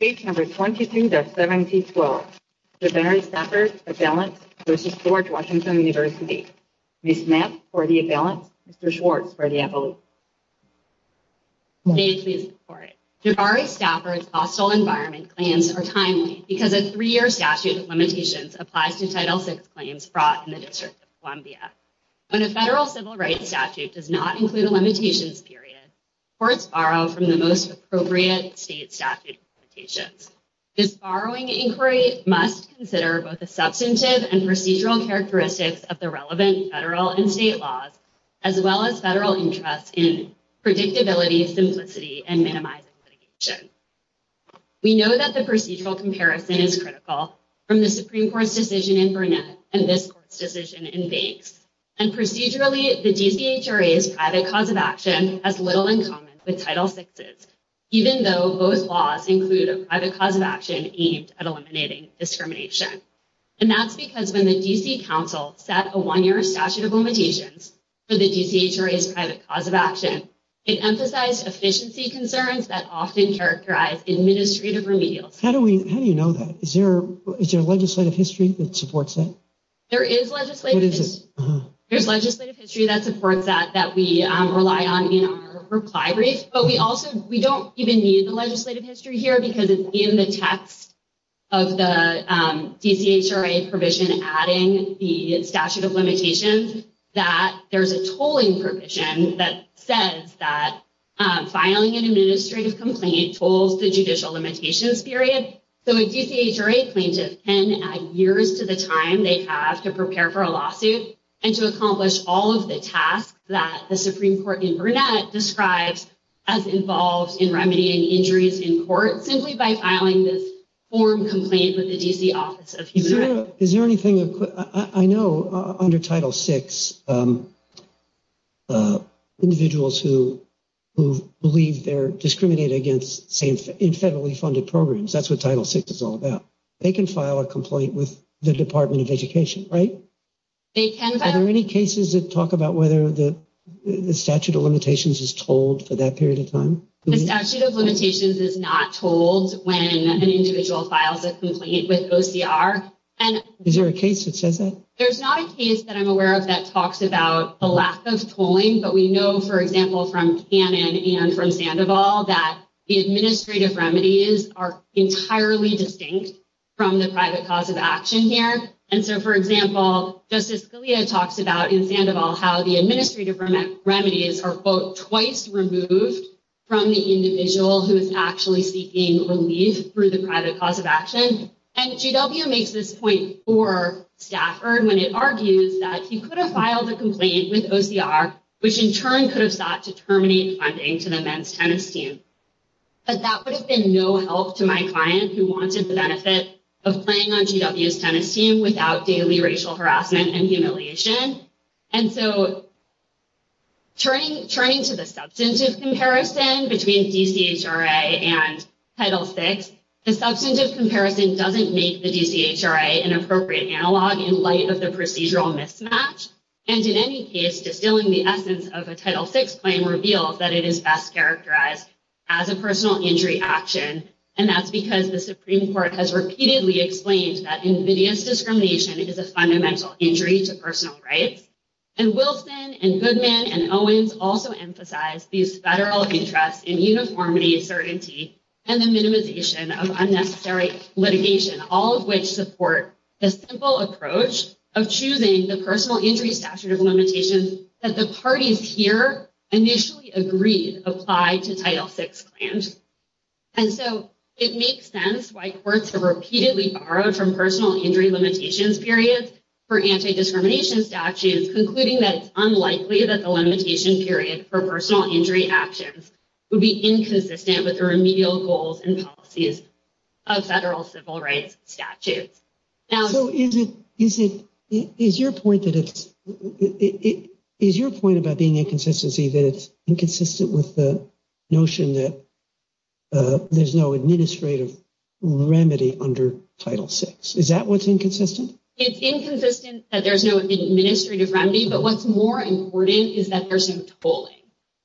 Page number 23-1712. Javari Stafford, Avalanche v. George Washington University. Ms. Knapp for the Avalanche, Mr. Schwartz for the Avalanche. Javari Stafford's hostile environment claims are timely because a three-year statute of limitations applies to Title VI claims brought in the District of Columbia. When a federal civil rights statute does not include a limitations period, courts borrow from the most appropriate state statute limitations. This borrowing inquiry must consider both the substantive and procedural characteristics of the relevant federal and state laws, as well as federal interests in predictability, simplicity, and minimizing litigation. We know that the procedural comparison is critical from the Supreme Court's decision in Burnett and this court's decision in Banks. And procedurally, the DCHRA's private cause of action has little in common with Title VI's, even though both laws include a private cause of action aimed at eliminating discrimination. And that's because when the D.C. Council set a one-year statute of limitations for the DCHRA's private cause of action, it emphasized efficiency concerns that often characterize administrative remedials. How do you know that? Is there a legislative history that supports that? There is legislative history. What is it? There's legislative history that supports that that we rely on in our reply brief, but we also we don't even need the legislative history here because it's in the text of the DCHRA provision adding the statute of limitations that there's a tolling provision that says that filing an administrative complaint tolls the judicial limitations period. So a DCHRA plaintiff can add years to the time they have to prepare for a lawsuit and to accomplish all of the tasks that the Supreme Court in Burnett describes as involved in remedying injuries in court, simply by filing this form complaint with the D.C. Office of Human Rights. Is there anything I know under Title VI individuals who believe they're discriminated against in federally funded programs? That's what Title VI is all about. They can file a complaint with the Department of Education, right? Are there any cases that talk about whether the statute of limitations is told for that period of time? The statute of limitations is not told when an individual files a complaint with OCR. Is there a case that says that? There's not a case that I'm aware of that talks about the lack of tolling, but we know, for example, from Cannon and from Sandoval, that the administrative remedies are entirely distinct from the private cause of action here. And so, for example, Justice Scalia talks about in Sandoval how the administrative remedies are, quote, twice removed from the individual who is actually seeking relief through the private cause of action. And GW makes this point for Stafford when it argues that he could have filed a complaint with OCR, which in turn could have sought to terminate funding to the men's tennis team. But that would have been no help to my client who wanted the benefit of playing on GW's tennis team without daily racial harassment and humiliation. And so turning to the substantive comparison between DCHRA and Title VI, the substantive comparison doesn't make the DCHRA an appropriate analog in light of the procedural mismatch. And in any case, distilling the essence of a Title VI claim reveals that it is best characterized as a personal injury action. And that's because the Supreme Court has repeatedly explained that invidious discrimination is a fundamental injury to personal rights. And Wilson and Goodman and Owens also emphasize these federal interests in uniformity, certainty, and the minimization of unnecessary litigation, all of which support the simple approach of choosing the personal injury statute of limitations that the parties here initially agreed applied to Title VI claims. And so it makes sense why courts have repeatedly borrowed from personal injury limitations periods for anti-discrimination statutes, concluding that it's unlikely that the limitation period for personal injury actions would be inconsistent with the remedial goals and policies of federal civil rights statutes. So is your point about being inconsistency that it's inconsistent with the notion that there's no administrative remedy under Title VI? It's inconsistent that there's no administrative remedy, but what's more important is that there's no tolling.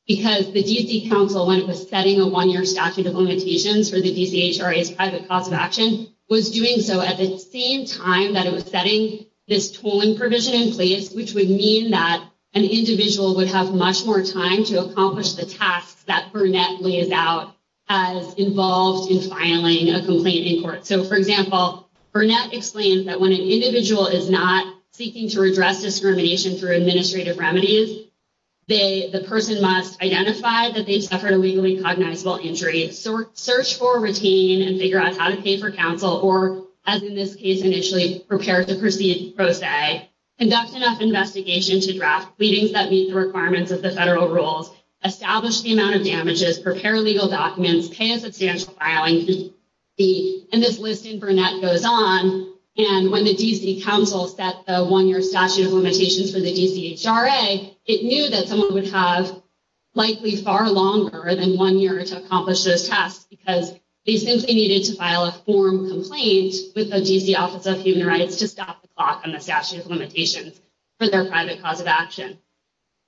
Because the D.C. Council, when it was setting a one-year statute of limitations for the DCHRA's private cause of action, was doing so at the same time that it was setting this tolling provision in place, which would mean that an individual would have much more time to accomplish the tasks that Burnett lays out as involved in filing a complaint in court. So, for example, Burnett explains that when an individual is not seeking to redress discrimination through administrative remedies, the person must identify that they've suffered a legally cognizable injury, search for a routine and figure out how to pay for counsel, or, as in this case initially, prepare to proceed pro se, conduct enough investigation to draft pleadings that meet the requirements of the federal rules, establish the amount of damages, prepare legal documents, pay a substantial filing fee, and this list in Burnett goes on. And when the D.C. Council set the one-year statute of limitations for the DCHRA, it knew that someone would have likely far longer than one year to accomplish those tasks because they simply needed to file a form complaint with the D.C. Office of Human Rights to stop the clock on the statute of limitations for their private cause of action.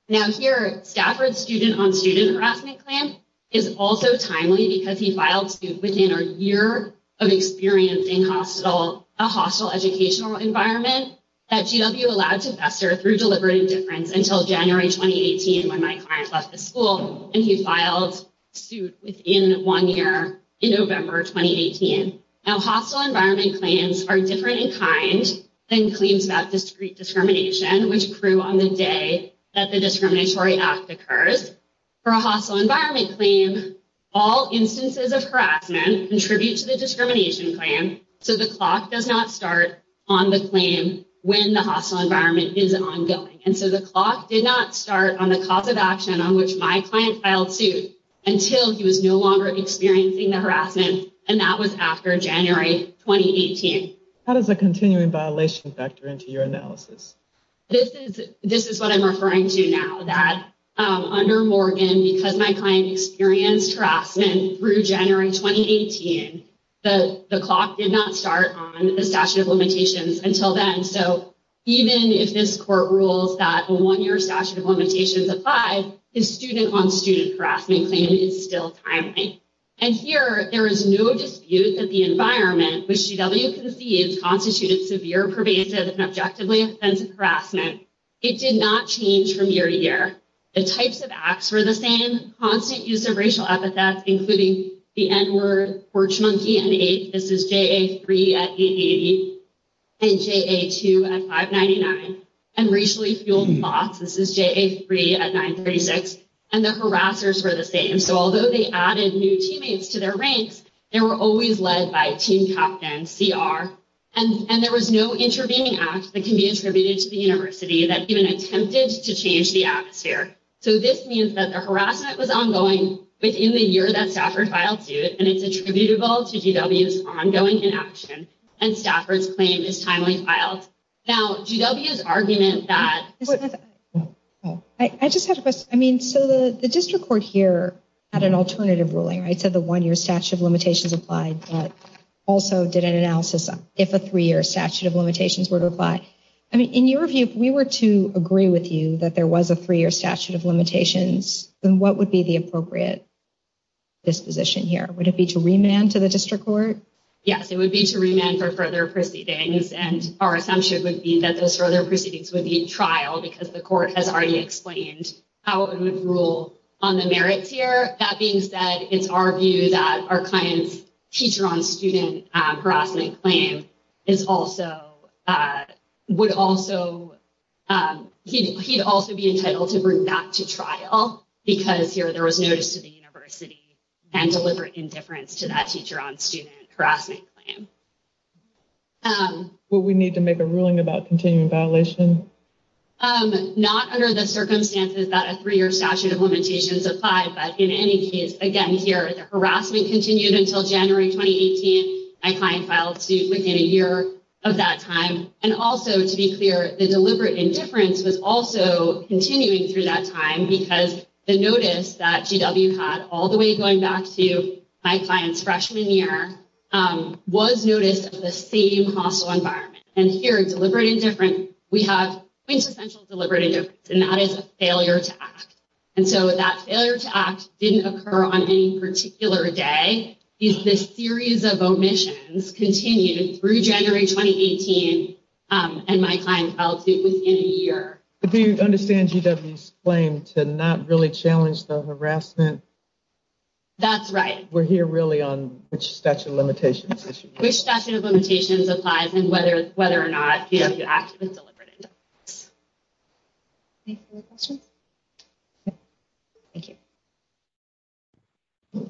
Now, here, Stafford's student-on-student harassment claim is also timely because he filed suit within a year of experiencing a hostile educational environment that GW allowed to fester through deliberate indifference until January 2018 when my client left the school, and he filed suit within one year in November 2018. Now, hostile environment claims are different in kind than claims about discrete discrimination, which grew on the day that the Discriminatory Act occurs. For a hostile environment claim, all instances of harassment contribute to the discrimination claim, so the clock does not start on the claim when the hostile environment is ongoing. And so the clock did not start on the cause of action on which my client filed suit until he was no longer experiencing the harassment, and that was after January 2018. How does a continuing violation factor into your analysis? This is what I'm referring to now, that under Morgan, because my client experienced harassment through January 2018, the clock did not start on the statute of limitations until then. And so even if this court rules that a one-year statute of limitations applies, his student-on-student harassment claim is still timely. And here, there is no dispute that the environment which GW conceived constituted severe, pervasive, and objectively offensive harassment. It did not change from year to year. The types of acts were the same, constant use of racial epithets, including the N-word, porch monkey, and ape. This is JA3 at 880 and JA2 at 599. And racially fueled thots, this is JA3 at 936. And the harassers were the same. So although they added new teammates to their ranks, they were always led by team captain, CR. And there was no intervening act that can be attributed to the university that even attempted to change the atmosphere. So this means that the harassment was ongoing within the year that Stafford filed suit, and it's attributable to GW's ongoing inaction, and Stafford's claim is timely filed. Now, GW's argument that— I just had a question. I mean, so the district court here had an alternative ruling, right, said the one-year statute of limitations applied, but also did an analysis if a three-year statute of limitations were to apply. I mean, in your view, if we were to agree with you that there was a three-year statute of limitations, then what would be the appropriate disposition here? Would it be to remand to the district court? Yes, it would be to remand for further proceedings, and our assumption would be that those further proceedings would be in trial because the court has already explained how it would rule on the merits here. That being said, it's our view that our client's teacher-on-student harassment claim is also—would also— he'd also be entitled to bring that to trial because here there was notice to the university and deliberate indifference to that teacher-on-student harassment claim. Would we need to make a ruling about continuing violation? Not under the circumstances that a three-year statute of limitations applied, but in any case, again, here, the harassment continued until January 2018. My client filed suit within a year of that time. And also, to be clear, the deliberate indifference was also continuing through that time because the notice that GW had all the way going back to my client's freshman year was notice of the same hostile environment. And here, deliberate indifference, we have quintessential deliberate indifference, and that is a failure to act. And so that failure to act didn't occur on any particular day. This series of omissions continued through January 2018, and my client filed suit within a year. Do you understand GW's claim to not really challenge the harassment? That's right. We're here really on which statute of limitations? Which statute of limitations applies and whether or not GW acted with deliberate indifference. Any other questions? No. Thank you. Good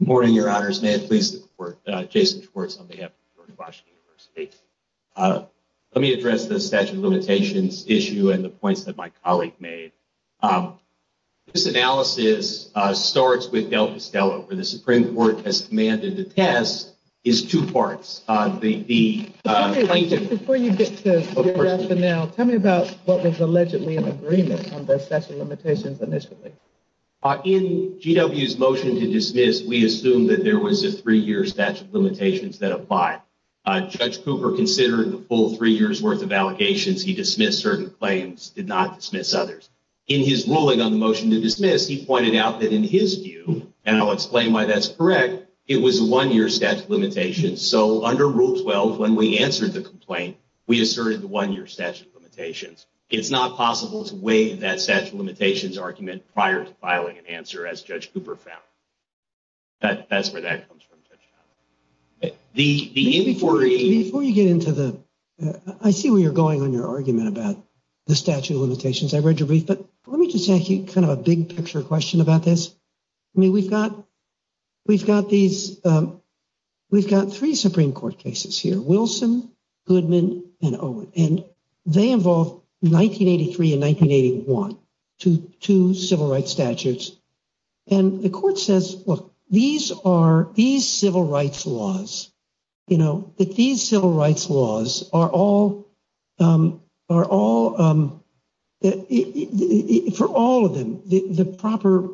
morning, Your Honors. May I please support Jason Schwartz on behalf of George Washington University? Let me address the statute of limitations issue and the points that my colleague made. This analysis starts with Del Castello, where the Supreme Court has commanded the test is two parts. Before you get to your rationale, tell me about what was allegedly an agreement on those statute of limitations initially. In GW's motion to dismiss, we assumed that there was a three-year statute of limitations that applied. Judge Cooper considered the full three years' worth of allegations. He dismissed certain claims, did not dismiss others. In his ruling on the motion to dismiss, he pointed out that in his view, and I'll explain why that's correct, it was a one-year statute of limitations. So under Rule 12, when we answered the complaint, we asserted the one-year statute of limitations. It's not possible to waive that statute of limitations argument prior to filing an answer, as Judge Cooper found. That's where that comes from. Before you get into the – I see where you're going on your argument about the statute of limitations. I read your brief, but let me just ask you kind of a big-picture question about this. I mean, we've got these – we've got three Supreme Court cases here, Wilson, Goodman, and Owen. And they involve 1983 and 1981, two civil rights statutes. And the court says, look, these are – these civil rights laws, you know, that these civil rights laws are all – are all – for all of them, the proper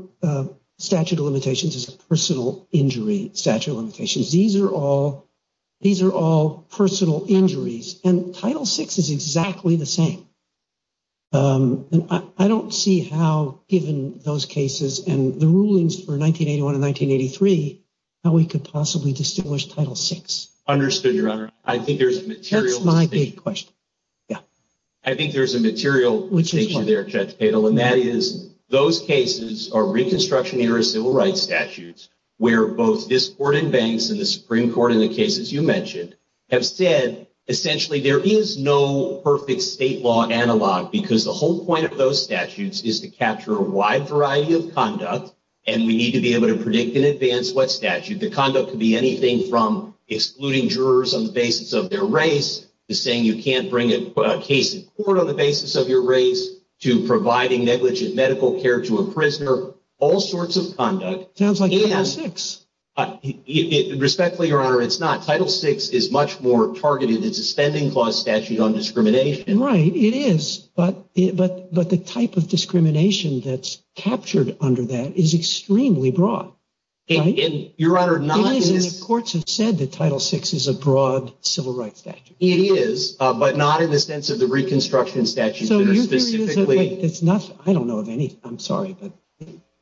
statute of limitations is a personal injury statute of limitations. These are all – these are all personal injuries. And Title VI is exactly the same. And I don't see how, given those cases and the rulings for 1981 and 1983, how we could possibly distinguish Title VI. Understood, Your Honor. I think there's material – That's my big question. Yeah. I think there's a material distinction there, Judge Patel, and that is those cases are Reconstruction-era civil rights statutes where both this court in Banks and the Supreme Court in the cases you mentioned have said, essentially, there is no perfect state law analog because the whole point of those statutes is to capture a wide variety of conduct. And we need to be able to predict in advance what statute. The conduct could be anything from excluding jurors on the basis of their race to saying you can't bring a case in court on the basis of your race to providing negligent medical care to a prisoner, all sorts of conduct. Sounds like Title VI. Respectfully, Your Honor, it's not. Title VI is much more targeted. It's a spending clause statute on discrimination. Right, it is. But the type of discrimination that's captured under that is extremely broad. Your Honor, not in this – It is, and the courts have said that Title VI is a broad civil rights statute. It is, but not in the sense of the Reconstruction statute that are specifically – I don't know of any. I'm sorry, but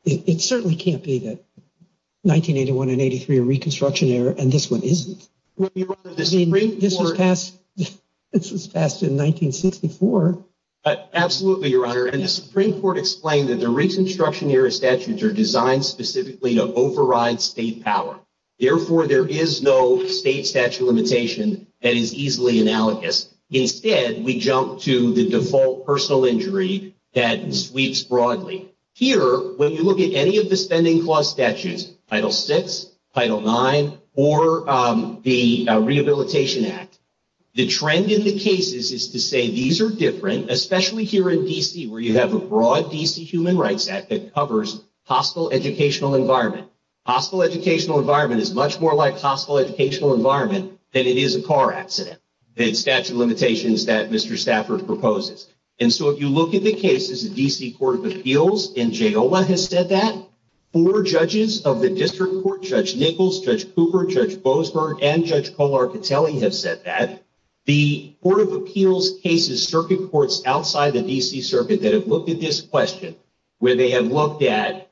it certainly can't be that 1981 and 1983 are Reconstruction era and this one isn't. Your Honor, the Supreme Court – This was passed in 1964. Absolutely, Your Honor. And the Supreme Court explained that the Reconstruction era statutes are designed specifically to override state power. Therefore, there is no state statute limitation that is easily analogous. Instead, we jump to the default personal injury that sweeps broadly. Here, when you look at any of the spending clause statutes, Title VI, Title IX, or the Rehabilitation Act, the trend in the cases is to say these are different, especially here in D.C. where you have a broad D.C. Human Rights Act that covers hostile educational environment. Hostile educational environment is much more like hostile educational environment than it is a car accident. The statute of limitations that Mr. Stafford proposes. And so, if you look at the cases, the D.C. Court of Appeals in JOA has said that. Four judges of the district court, Judge Nichols, Judge Cooper, Judge Bozeman, and Judge Colartatelli have said that. The Court of Appeals cases, circuit courts outside the D.C. Circuit that have looked at this question, where they have looked at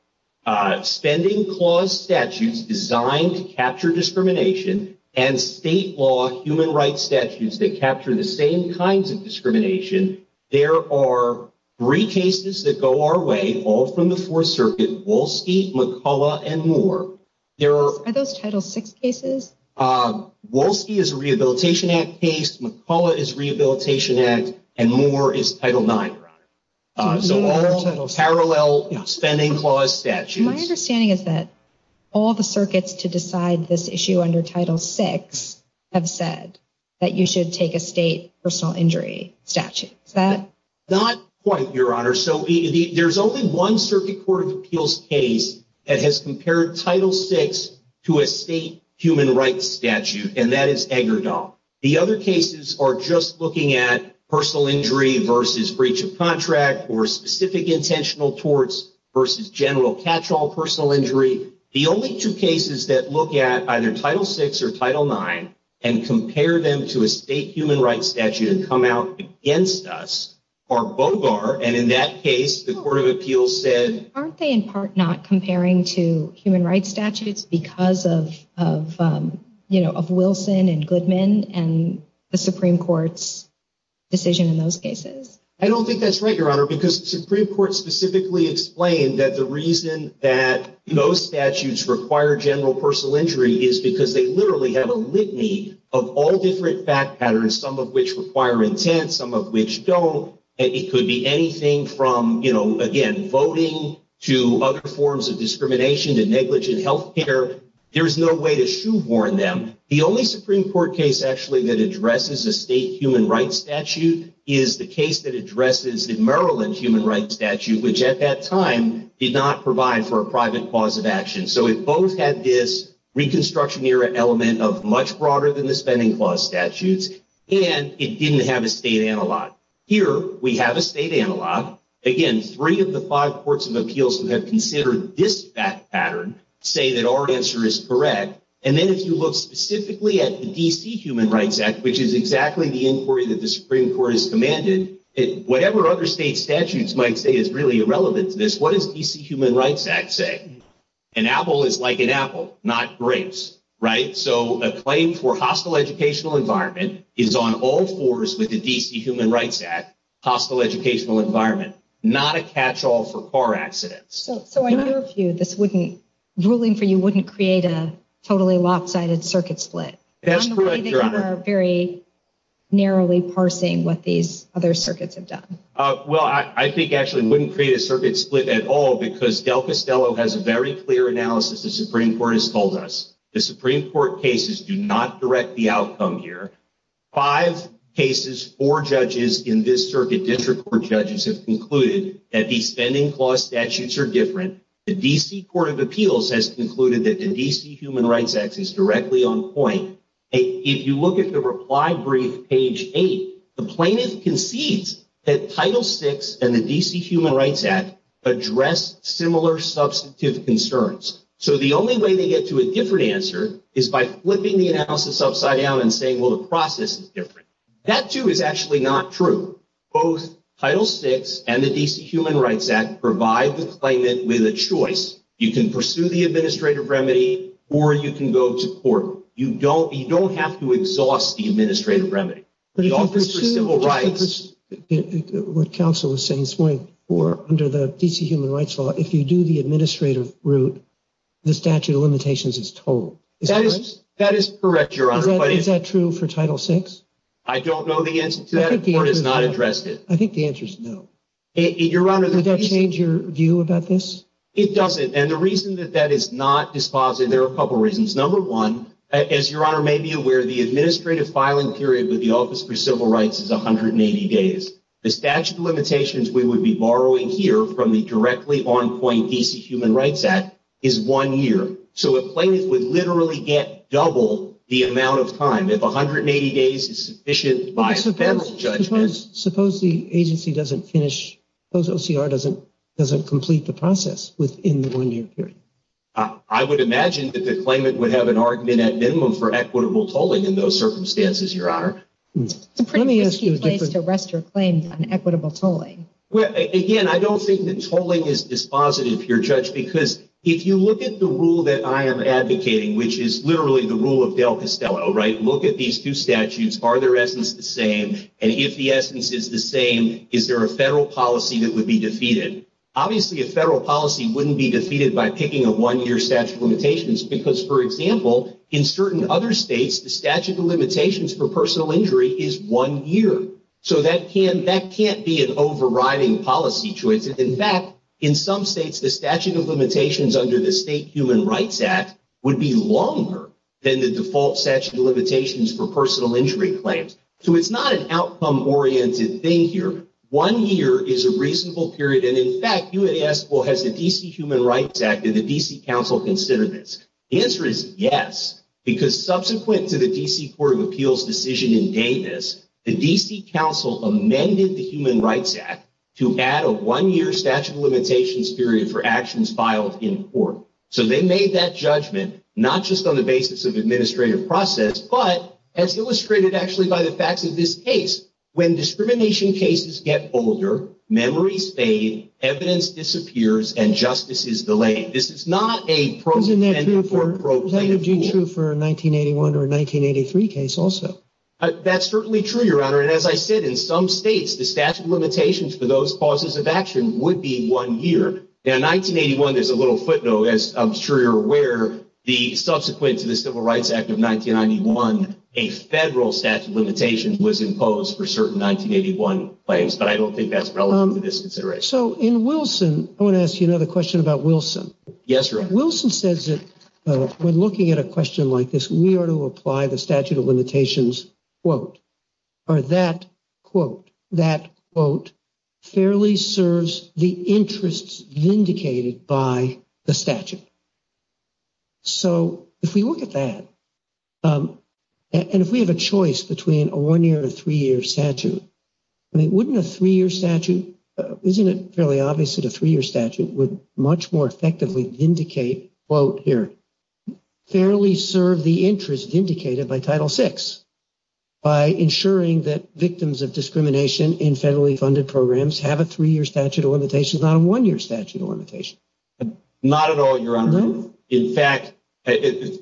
spending clause statutes designed to capture discrimination and state law human rights statutes that capture the same kinds of discrimination. There are three cases that go our way, all from the Fourth Circuit, Wolski, McCullough, and Moore. Are those Title VI cases? Wolski is a Rehabilitation Act case. McCullough is Rehabilitation Act. And Moore is Title IX. So, all parallel spending clause statutes. My understanding is that all the circuits to decide this issue under Title VI have said that you should take a state personal injury statute. Is that? Not quite, Your Honor. So, there's only one Circuit Court of Appeals case that has compared Title VI to a state human rights statute. And that is Eggerdahl. The other cases are just looking at personal injury versus breach of contract or specific intentional torts versus general catch-all personal injury. The only two cases that look at either Title VI or Title IX and compare them to a state human rights statute and come out against us are Bogar. And in that case, the Court of Appeals said— I don't think that's right, Your Honor, because the Supreme Court specifically explained that the reason that those statutes require general personal injury is because they literally have a litany of all different fact patterns, some of which require intent, some of which don't. It could be anything from, you know, again, voting to other forms of discrimination to negligent health care. There's no way to shoehorn them. And the only Supreme Court case, actually, that addresses a state human rights statute is the case that addresses the Maryland human rights statute, which at that time did not provide for a private cause of action. So, it both had this Reconstruction Era element of much broader than the spending clause statutes, and it didn't have a state analog. Here, we have a state analog. Again, three of the five Courts of Appeals who have considered this fact pattern say that our answer is correct. And then if you look specifically at the D.C. Human Rights Act, which is exactly the inquiry that the Supreme Court has commanded, whatever other state statutes might say is really irrelevant to this. What does the D.C. Human Rights Act say? An apple is like an apple, not grapes, right? So, a claim for hostile educational environment is on all fours with the D.C. Human Rights Act, hostile educational environment, not a catch-all for car accidents. So, in your view, this ruling for you wouldn't create a totally lopsided circuit split? That's correct, Your Honor. I'm worried that you are very narrowly parsing what these other circuits have done. Well, I think, actually, it wouldn't create a circuit split at all because Del Castello has a very clear analysis the Supreme Court has told us. The Supreme Court cases do not direct the outcome here. Five cases, four judges in this circuit, district court judges, have concluded that these spending clause statutes are different. The D.C. Court of Appeals has concluded that the D.C. Human Rights Act is directly on point. If you look at the reply brief, page 8, the plaintiff concedes that Title VI and the D.C. Human Rights Act address similar substantive concerns. So the only way they get to a different answer is by flipping the analysis upside down and saying, well, the process is different. That, too, is actually not true. Both Title VI and the D.C. Human Rights Act provide the claimant with a choice. You can pursue the administrative remedy or you can go to court. You don't have to exhaust the administrative remedy. What counsel was saying this morning, under the D.C. Human Rights Law, if you do the administrative route, the statute of limitations is total. That is correct, Your Honor. Is that true for Title VI? I don't know the answer to that. The court has not addressed it. I think the answer is no. Would that change your view about this? It doesn't. And the reason that that is not dispositive, there are a couple reasons. Number one, as Your Honor may be aware, the administrative filing period with the Office for Civil Rights is 180 days. The statute of limitations we would be borrowing here from the directly on point D.C. Human Rights Act is one year. So a claimant would literally get double the amount of time. If 180 days is sufficient by federal judgment. Suppose the agency doesn't finish, suppose OCR doesn't complete the process within the one-year period. I would imagine that the claimant would have an argument at minimum for equitable tolling in those circumstances, Your Honor. It's a pretty risky place to rest your claims on equitable tolling. Again, I don't think that tolling is dispositive here, Judge, because if you look at the rule that I am advocating, which is literally the rule of Dale Costello, right? Look at these two statutes. Are their essence the same? And if the essence is the same, is there a federal policy that would be defeated? Obviously, a federal policy wouldn't be defeated by picking a one-year statute of limitations. Because, for example, in certain other states, the statute of limitations for personal injury is one year. So that can't be an overriding policy choice. In fact, in some states, the statute of limitations under the State Human Rights Act would be longer than the default statute of limitations for personal injury claims. So it's not an outcome-oriented thing here. One year is a reasonable period. And, in fact, you would ask, well, has the D.C. Human Rights Act and the D.C. Council considered this? The answer is yes, because subsequent to the D.C. Court of Appeals decision in Davis, the D.C. Council amended the Human Rights Act to add a one-year statute of limitations period for actions filed in court. So they made that judgment not just on the basis of administrative process, but as illustrated actually by the facts of this case. When discrimination cases get older, memories fade, evidence disappears, and justice is delayed. This is not a pro-defendant or pro-plaintiff rule. Isn't that true for a 1981 or a 1983 case also? That's certainly true, Your Honor. And, as I said, in some states, the statute of limitations for those causes of action would be one year. In 1981, there's a little footnote, as I'm sure you're aware. Subsequent to the Civil Rights Act of 1991, a federal statute of limitations was imposed for certain 1981 claims, but I don't think that's relevant to this consideration. So in Wilson, I want to ask you another question about Wilson. Yes, Your Honor. Wilson says that when looking at a question like this, we are to apply the statute of limitations, quote, or that, quote, that, quote, fairly serves the interests vindicated by the statute. So if we look at that, and if we have a choice between a one-year and a three-year statute, I mean, wouldn't a three-year statute – isn't it fairly obvious that a three-year statute would much more effectively vindicate, quote, here, fairly serve the interests vindicated by Title VI by ensuring that victims of discrimination in federally funded programs have a three-year statute of limitations, not a one-year statute of limitations? Not at all, Your Honor. No? In fact,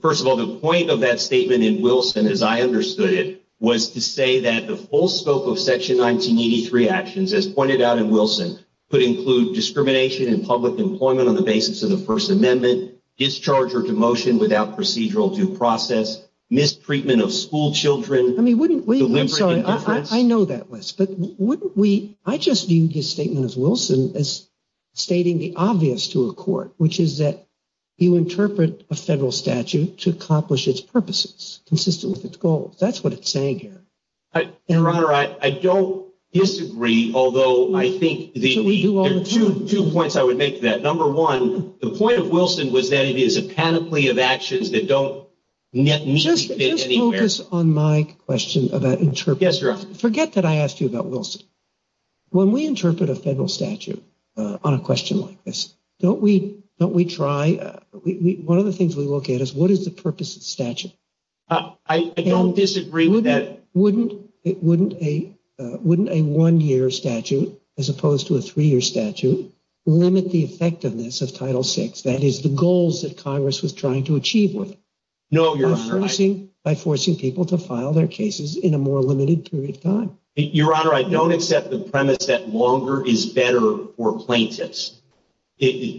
first of all, the point of that statement in Wilson, as I understood it, was to say that the full scope of Section 1983 actions, as pointed out in Wilson, could include discrimination in public employment on the basis of the First Amendment, discharge or demotion without procedural due process, mistreatment of schoolchildren – I mean, wouldn't we – I'm sorry, I know that list, but wouldn't we – I just viewed his statement as Wilson as stating the obvious to a court, which is that you interpret a federal statute to accomplish its purposes consistent with its goals. That's what it's saying here. Your Honor, I don't disagree, although I think the – We do all the time. There are two points I would make to that. Number one, the point of Wilson was that it is a panoply of actions that don't neatly fit anywhere. Just focus on my question about interpretation. Yes, Your Honor. Forget that I asked you about Wilson. When we interpret a federal statute on a question like this, don't we try – one of the things we look at is what is the purpose of the statute? I don't disagree with that. Wouldn't a one-year statute, as opposed to a three-year statute, limit the effectiveness of Title VI, that is, the goals that Congress was trying to achieve with it? No, Your Honor. By forcing people to file their cases in a more limited period of time. Your Honor, I don't accept the premise that longer is better for plaintiffs.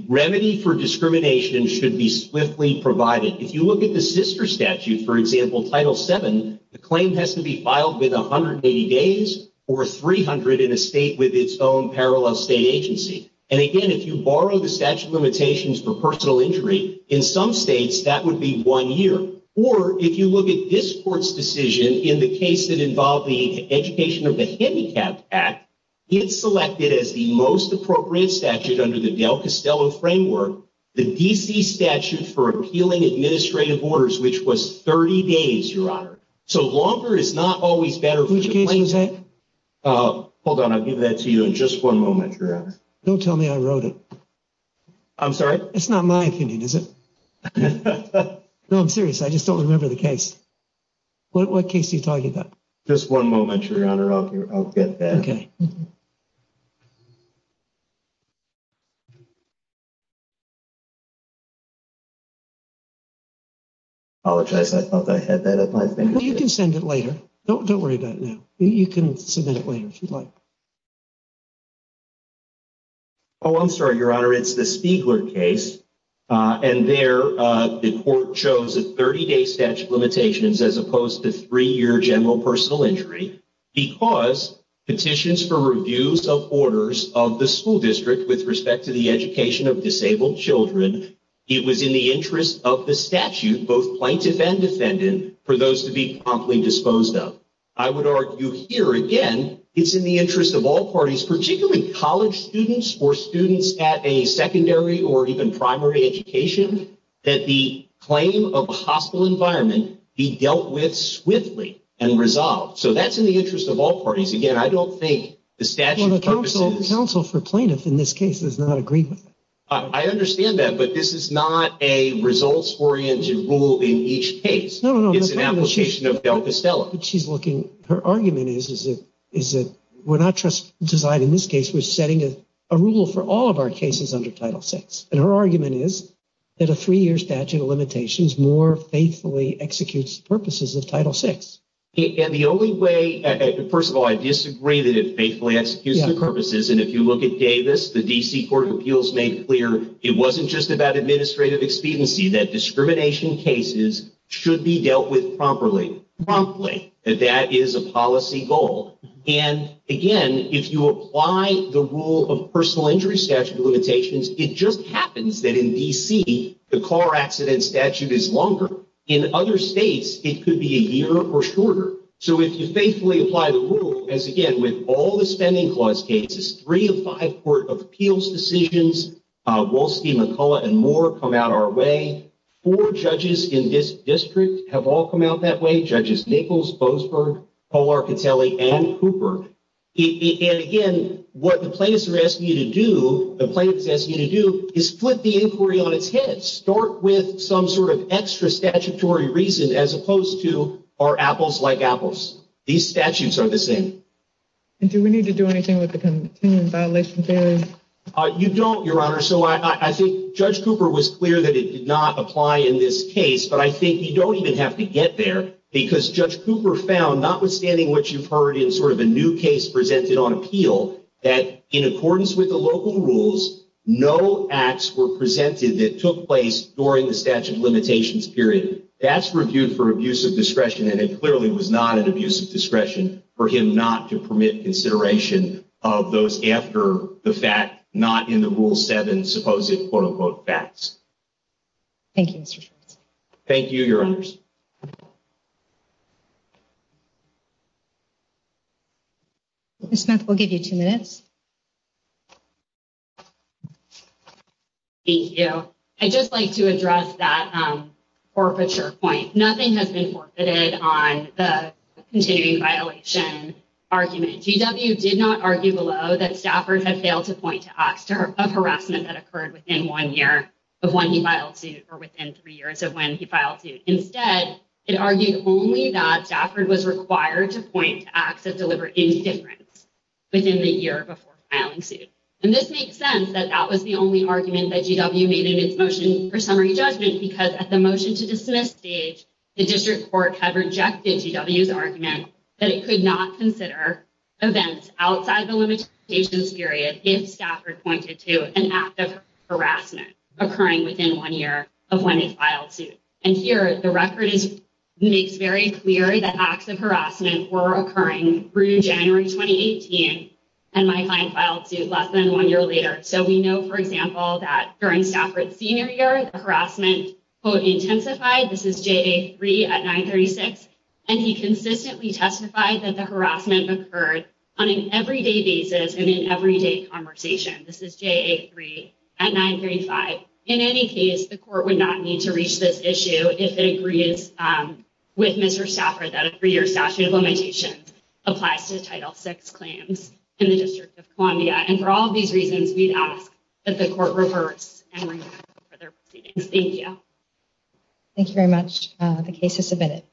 Remedy for discrimination should be swiftly provided. If you look at the sister statute, for example, Title VII, the claim has to be filed within 180 days or 300 in a state with its own parallel state agency. And again, if you borrow the statute of limitations for personal injury, in some states that would be one year. Or, if you look at this Court's decision in the case that involved the education of the Handicapped Act, it selected as the most appropriate statute under the Del Castello framework, the D.C. statute for appealing administrative orders, which was 30 days, Your Honor. So, longer is not always better for the plaintiffs. Hold on, I'll give that to you in just one moment, Your Honor. Don't tell me I wrote it. I'm sorry? It's not my opinion, is it? No, I'm serious. I just don't remember the case. What case are you talking about? Just one moment, Your Honor. I'll get that. Okay. I apologize. I thought I had that. You can send it later. Don't worry about it now. Oh, I'm sorry, Your Honor. It's the Spiegler case. And there, the Court chose a 30-day statute of limitations as opposed to three-year general personal injury because petitions for reviews of orders of the school district with respect to the education of disabled children, it was in the interest of the statute, both plaintiff and defendant, for those to be promptly disposed of. I would argue here, again, it's in the interest of all parties, particularly college students or students at a secondary or even primary education, that the claim of a hostile environment be dealt with swiftly and resolved. So that's in the interest of all parties. Again, I don't think the statute purposes— Well, the counsel for plaintiff in this case does not agree with that. I understand that, but this is not a results-oriented rule in each case. No, no, no. It's an application of Del Castello. But she's looking—her argument is that we're not just deciding this case. We're setting a rule for all of our cases under Title VI. And her argument is that a three-year statute of limitations more faithfully executes the purposes of Title VI. And the only way—first of all, I disagree that it faithfully executes the purposes. And if you look at Davis, the D.C. Court of Appeals made clear it wasn't just about administrative expediency, that discrimination cases should be dealt with promptly. That is a policy goal. And, again, if you apply the rule of personal injury statute of limitations, it just happens that in D.C. the car accident statute is longer. In other states, it could be a year or shorter. So if you faithfully apply the rule, as, again, with all the Spending Clause cases, three of five Court of Appeals decisions, Wolstey, McCullough, and more come out our way. Four judges in this district have all come out that way—Judges Nichols, Boasberg, Paul Arcatelli, and Cooper. And, again, what the plaintiffs are asking you to do—the plaintiffs are asking you to do is flip the inquiry on its head. Start with some sort of extra statutory reason as opposed to, are apples like apples? These statutes are the same. And do we need to do anything with the continuing violation theory? You don't, Your Honor. So I think Judge Cooper was clear that it did not apply in this case. But I think you don't even have to get there because Judge Cooper found, notwithstanding what you've heard in sort of a new case presented on appeal, that in accordance with the local rules, no acts were presented that took place during the statute of limitations period. That's reviewed for abuse of discretion, and it clearly was not an abuse of discretion for him not to permit consideration of those after the fact, not in the Rule 7 supposed quote-unquote facts. Thank you, Mr. Schwartz. Thank you, Your Honors. Ms. Smith, we'll give you two minutes. Thank you. I'd just like to address that forfeiture point. Nothing has been forfeited on the continuing violation argument. GW did not argue below that Stafford had failed to point to acts of harassment that occurred within one year of when he filed suit, or within three years of when he filed suit. Instead, it argued only that Stafford was required to point to acts that deliver indifference within the year before filing suit. And this makes sense that that was the only argument that GW made in its motion for summary judgment, because at the motion to dismiss stage, the district court had rejected GW's argument that it could not consider events outside the limitations period if Stafford pointed to an act of harassment occurring within one year of when he filed suit. And here, the record makes very clear that acts of harassment were occurring through January 2018 and might find filed suit less than one year later. So we know, for example, that during Stafford's senior year, the harassment, quote, intensified. This is JA3 at 936. And he consistently testified that the harassment occurred on an everyday basis and in everyday conversation. This is JA3 at 935. In any case, the court would not need to reach this issue if it agrees with Mr. Stafford that a three-year statute of limitations applies to Title VI claims in the District of Columbia. And for all of these reasons, we'd ask that the court reverse and re-enact further proceedings. Thank you. Thank you very much. The case is submitted.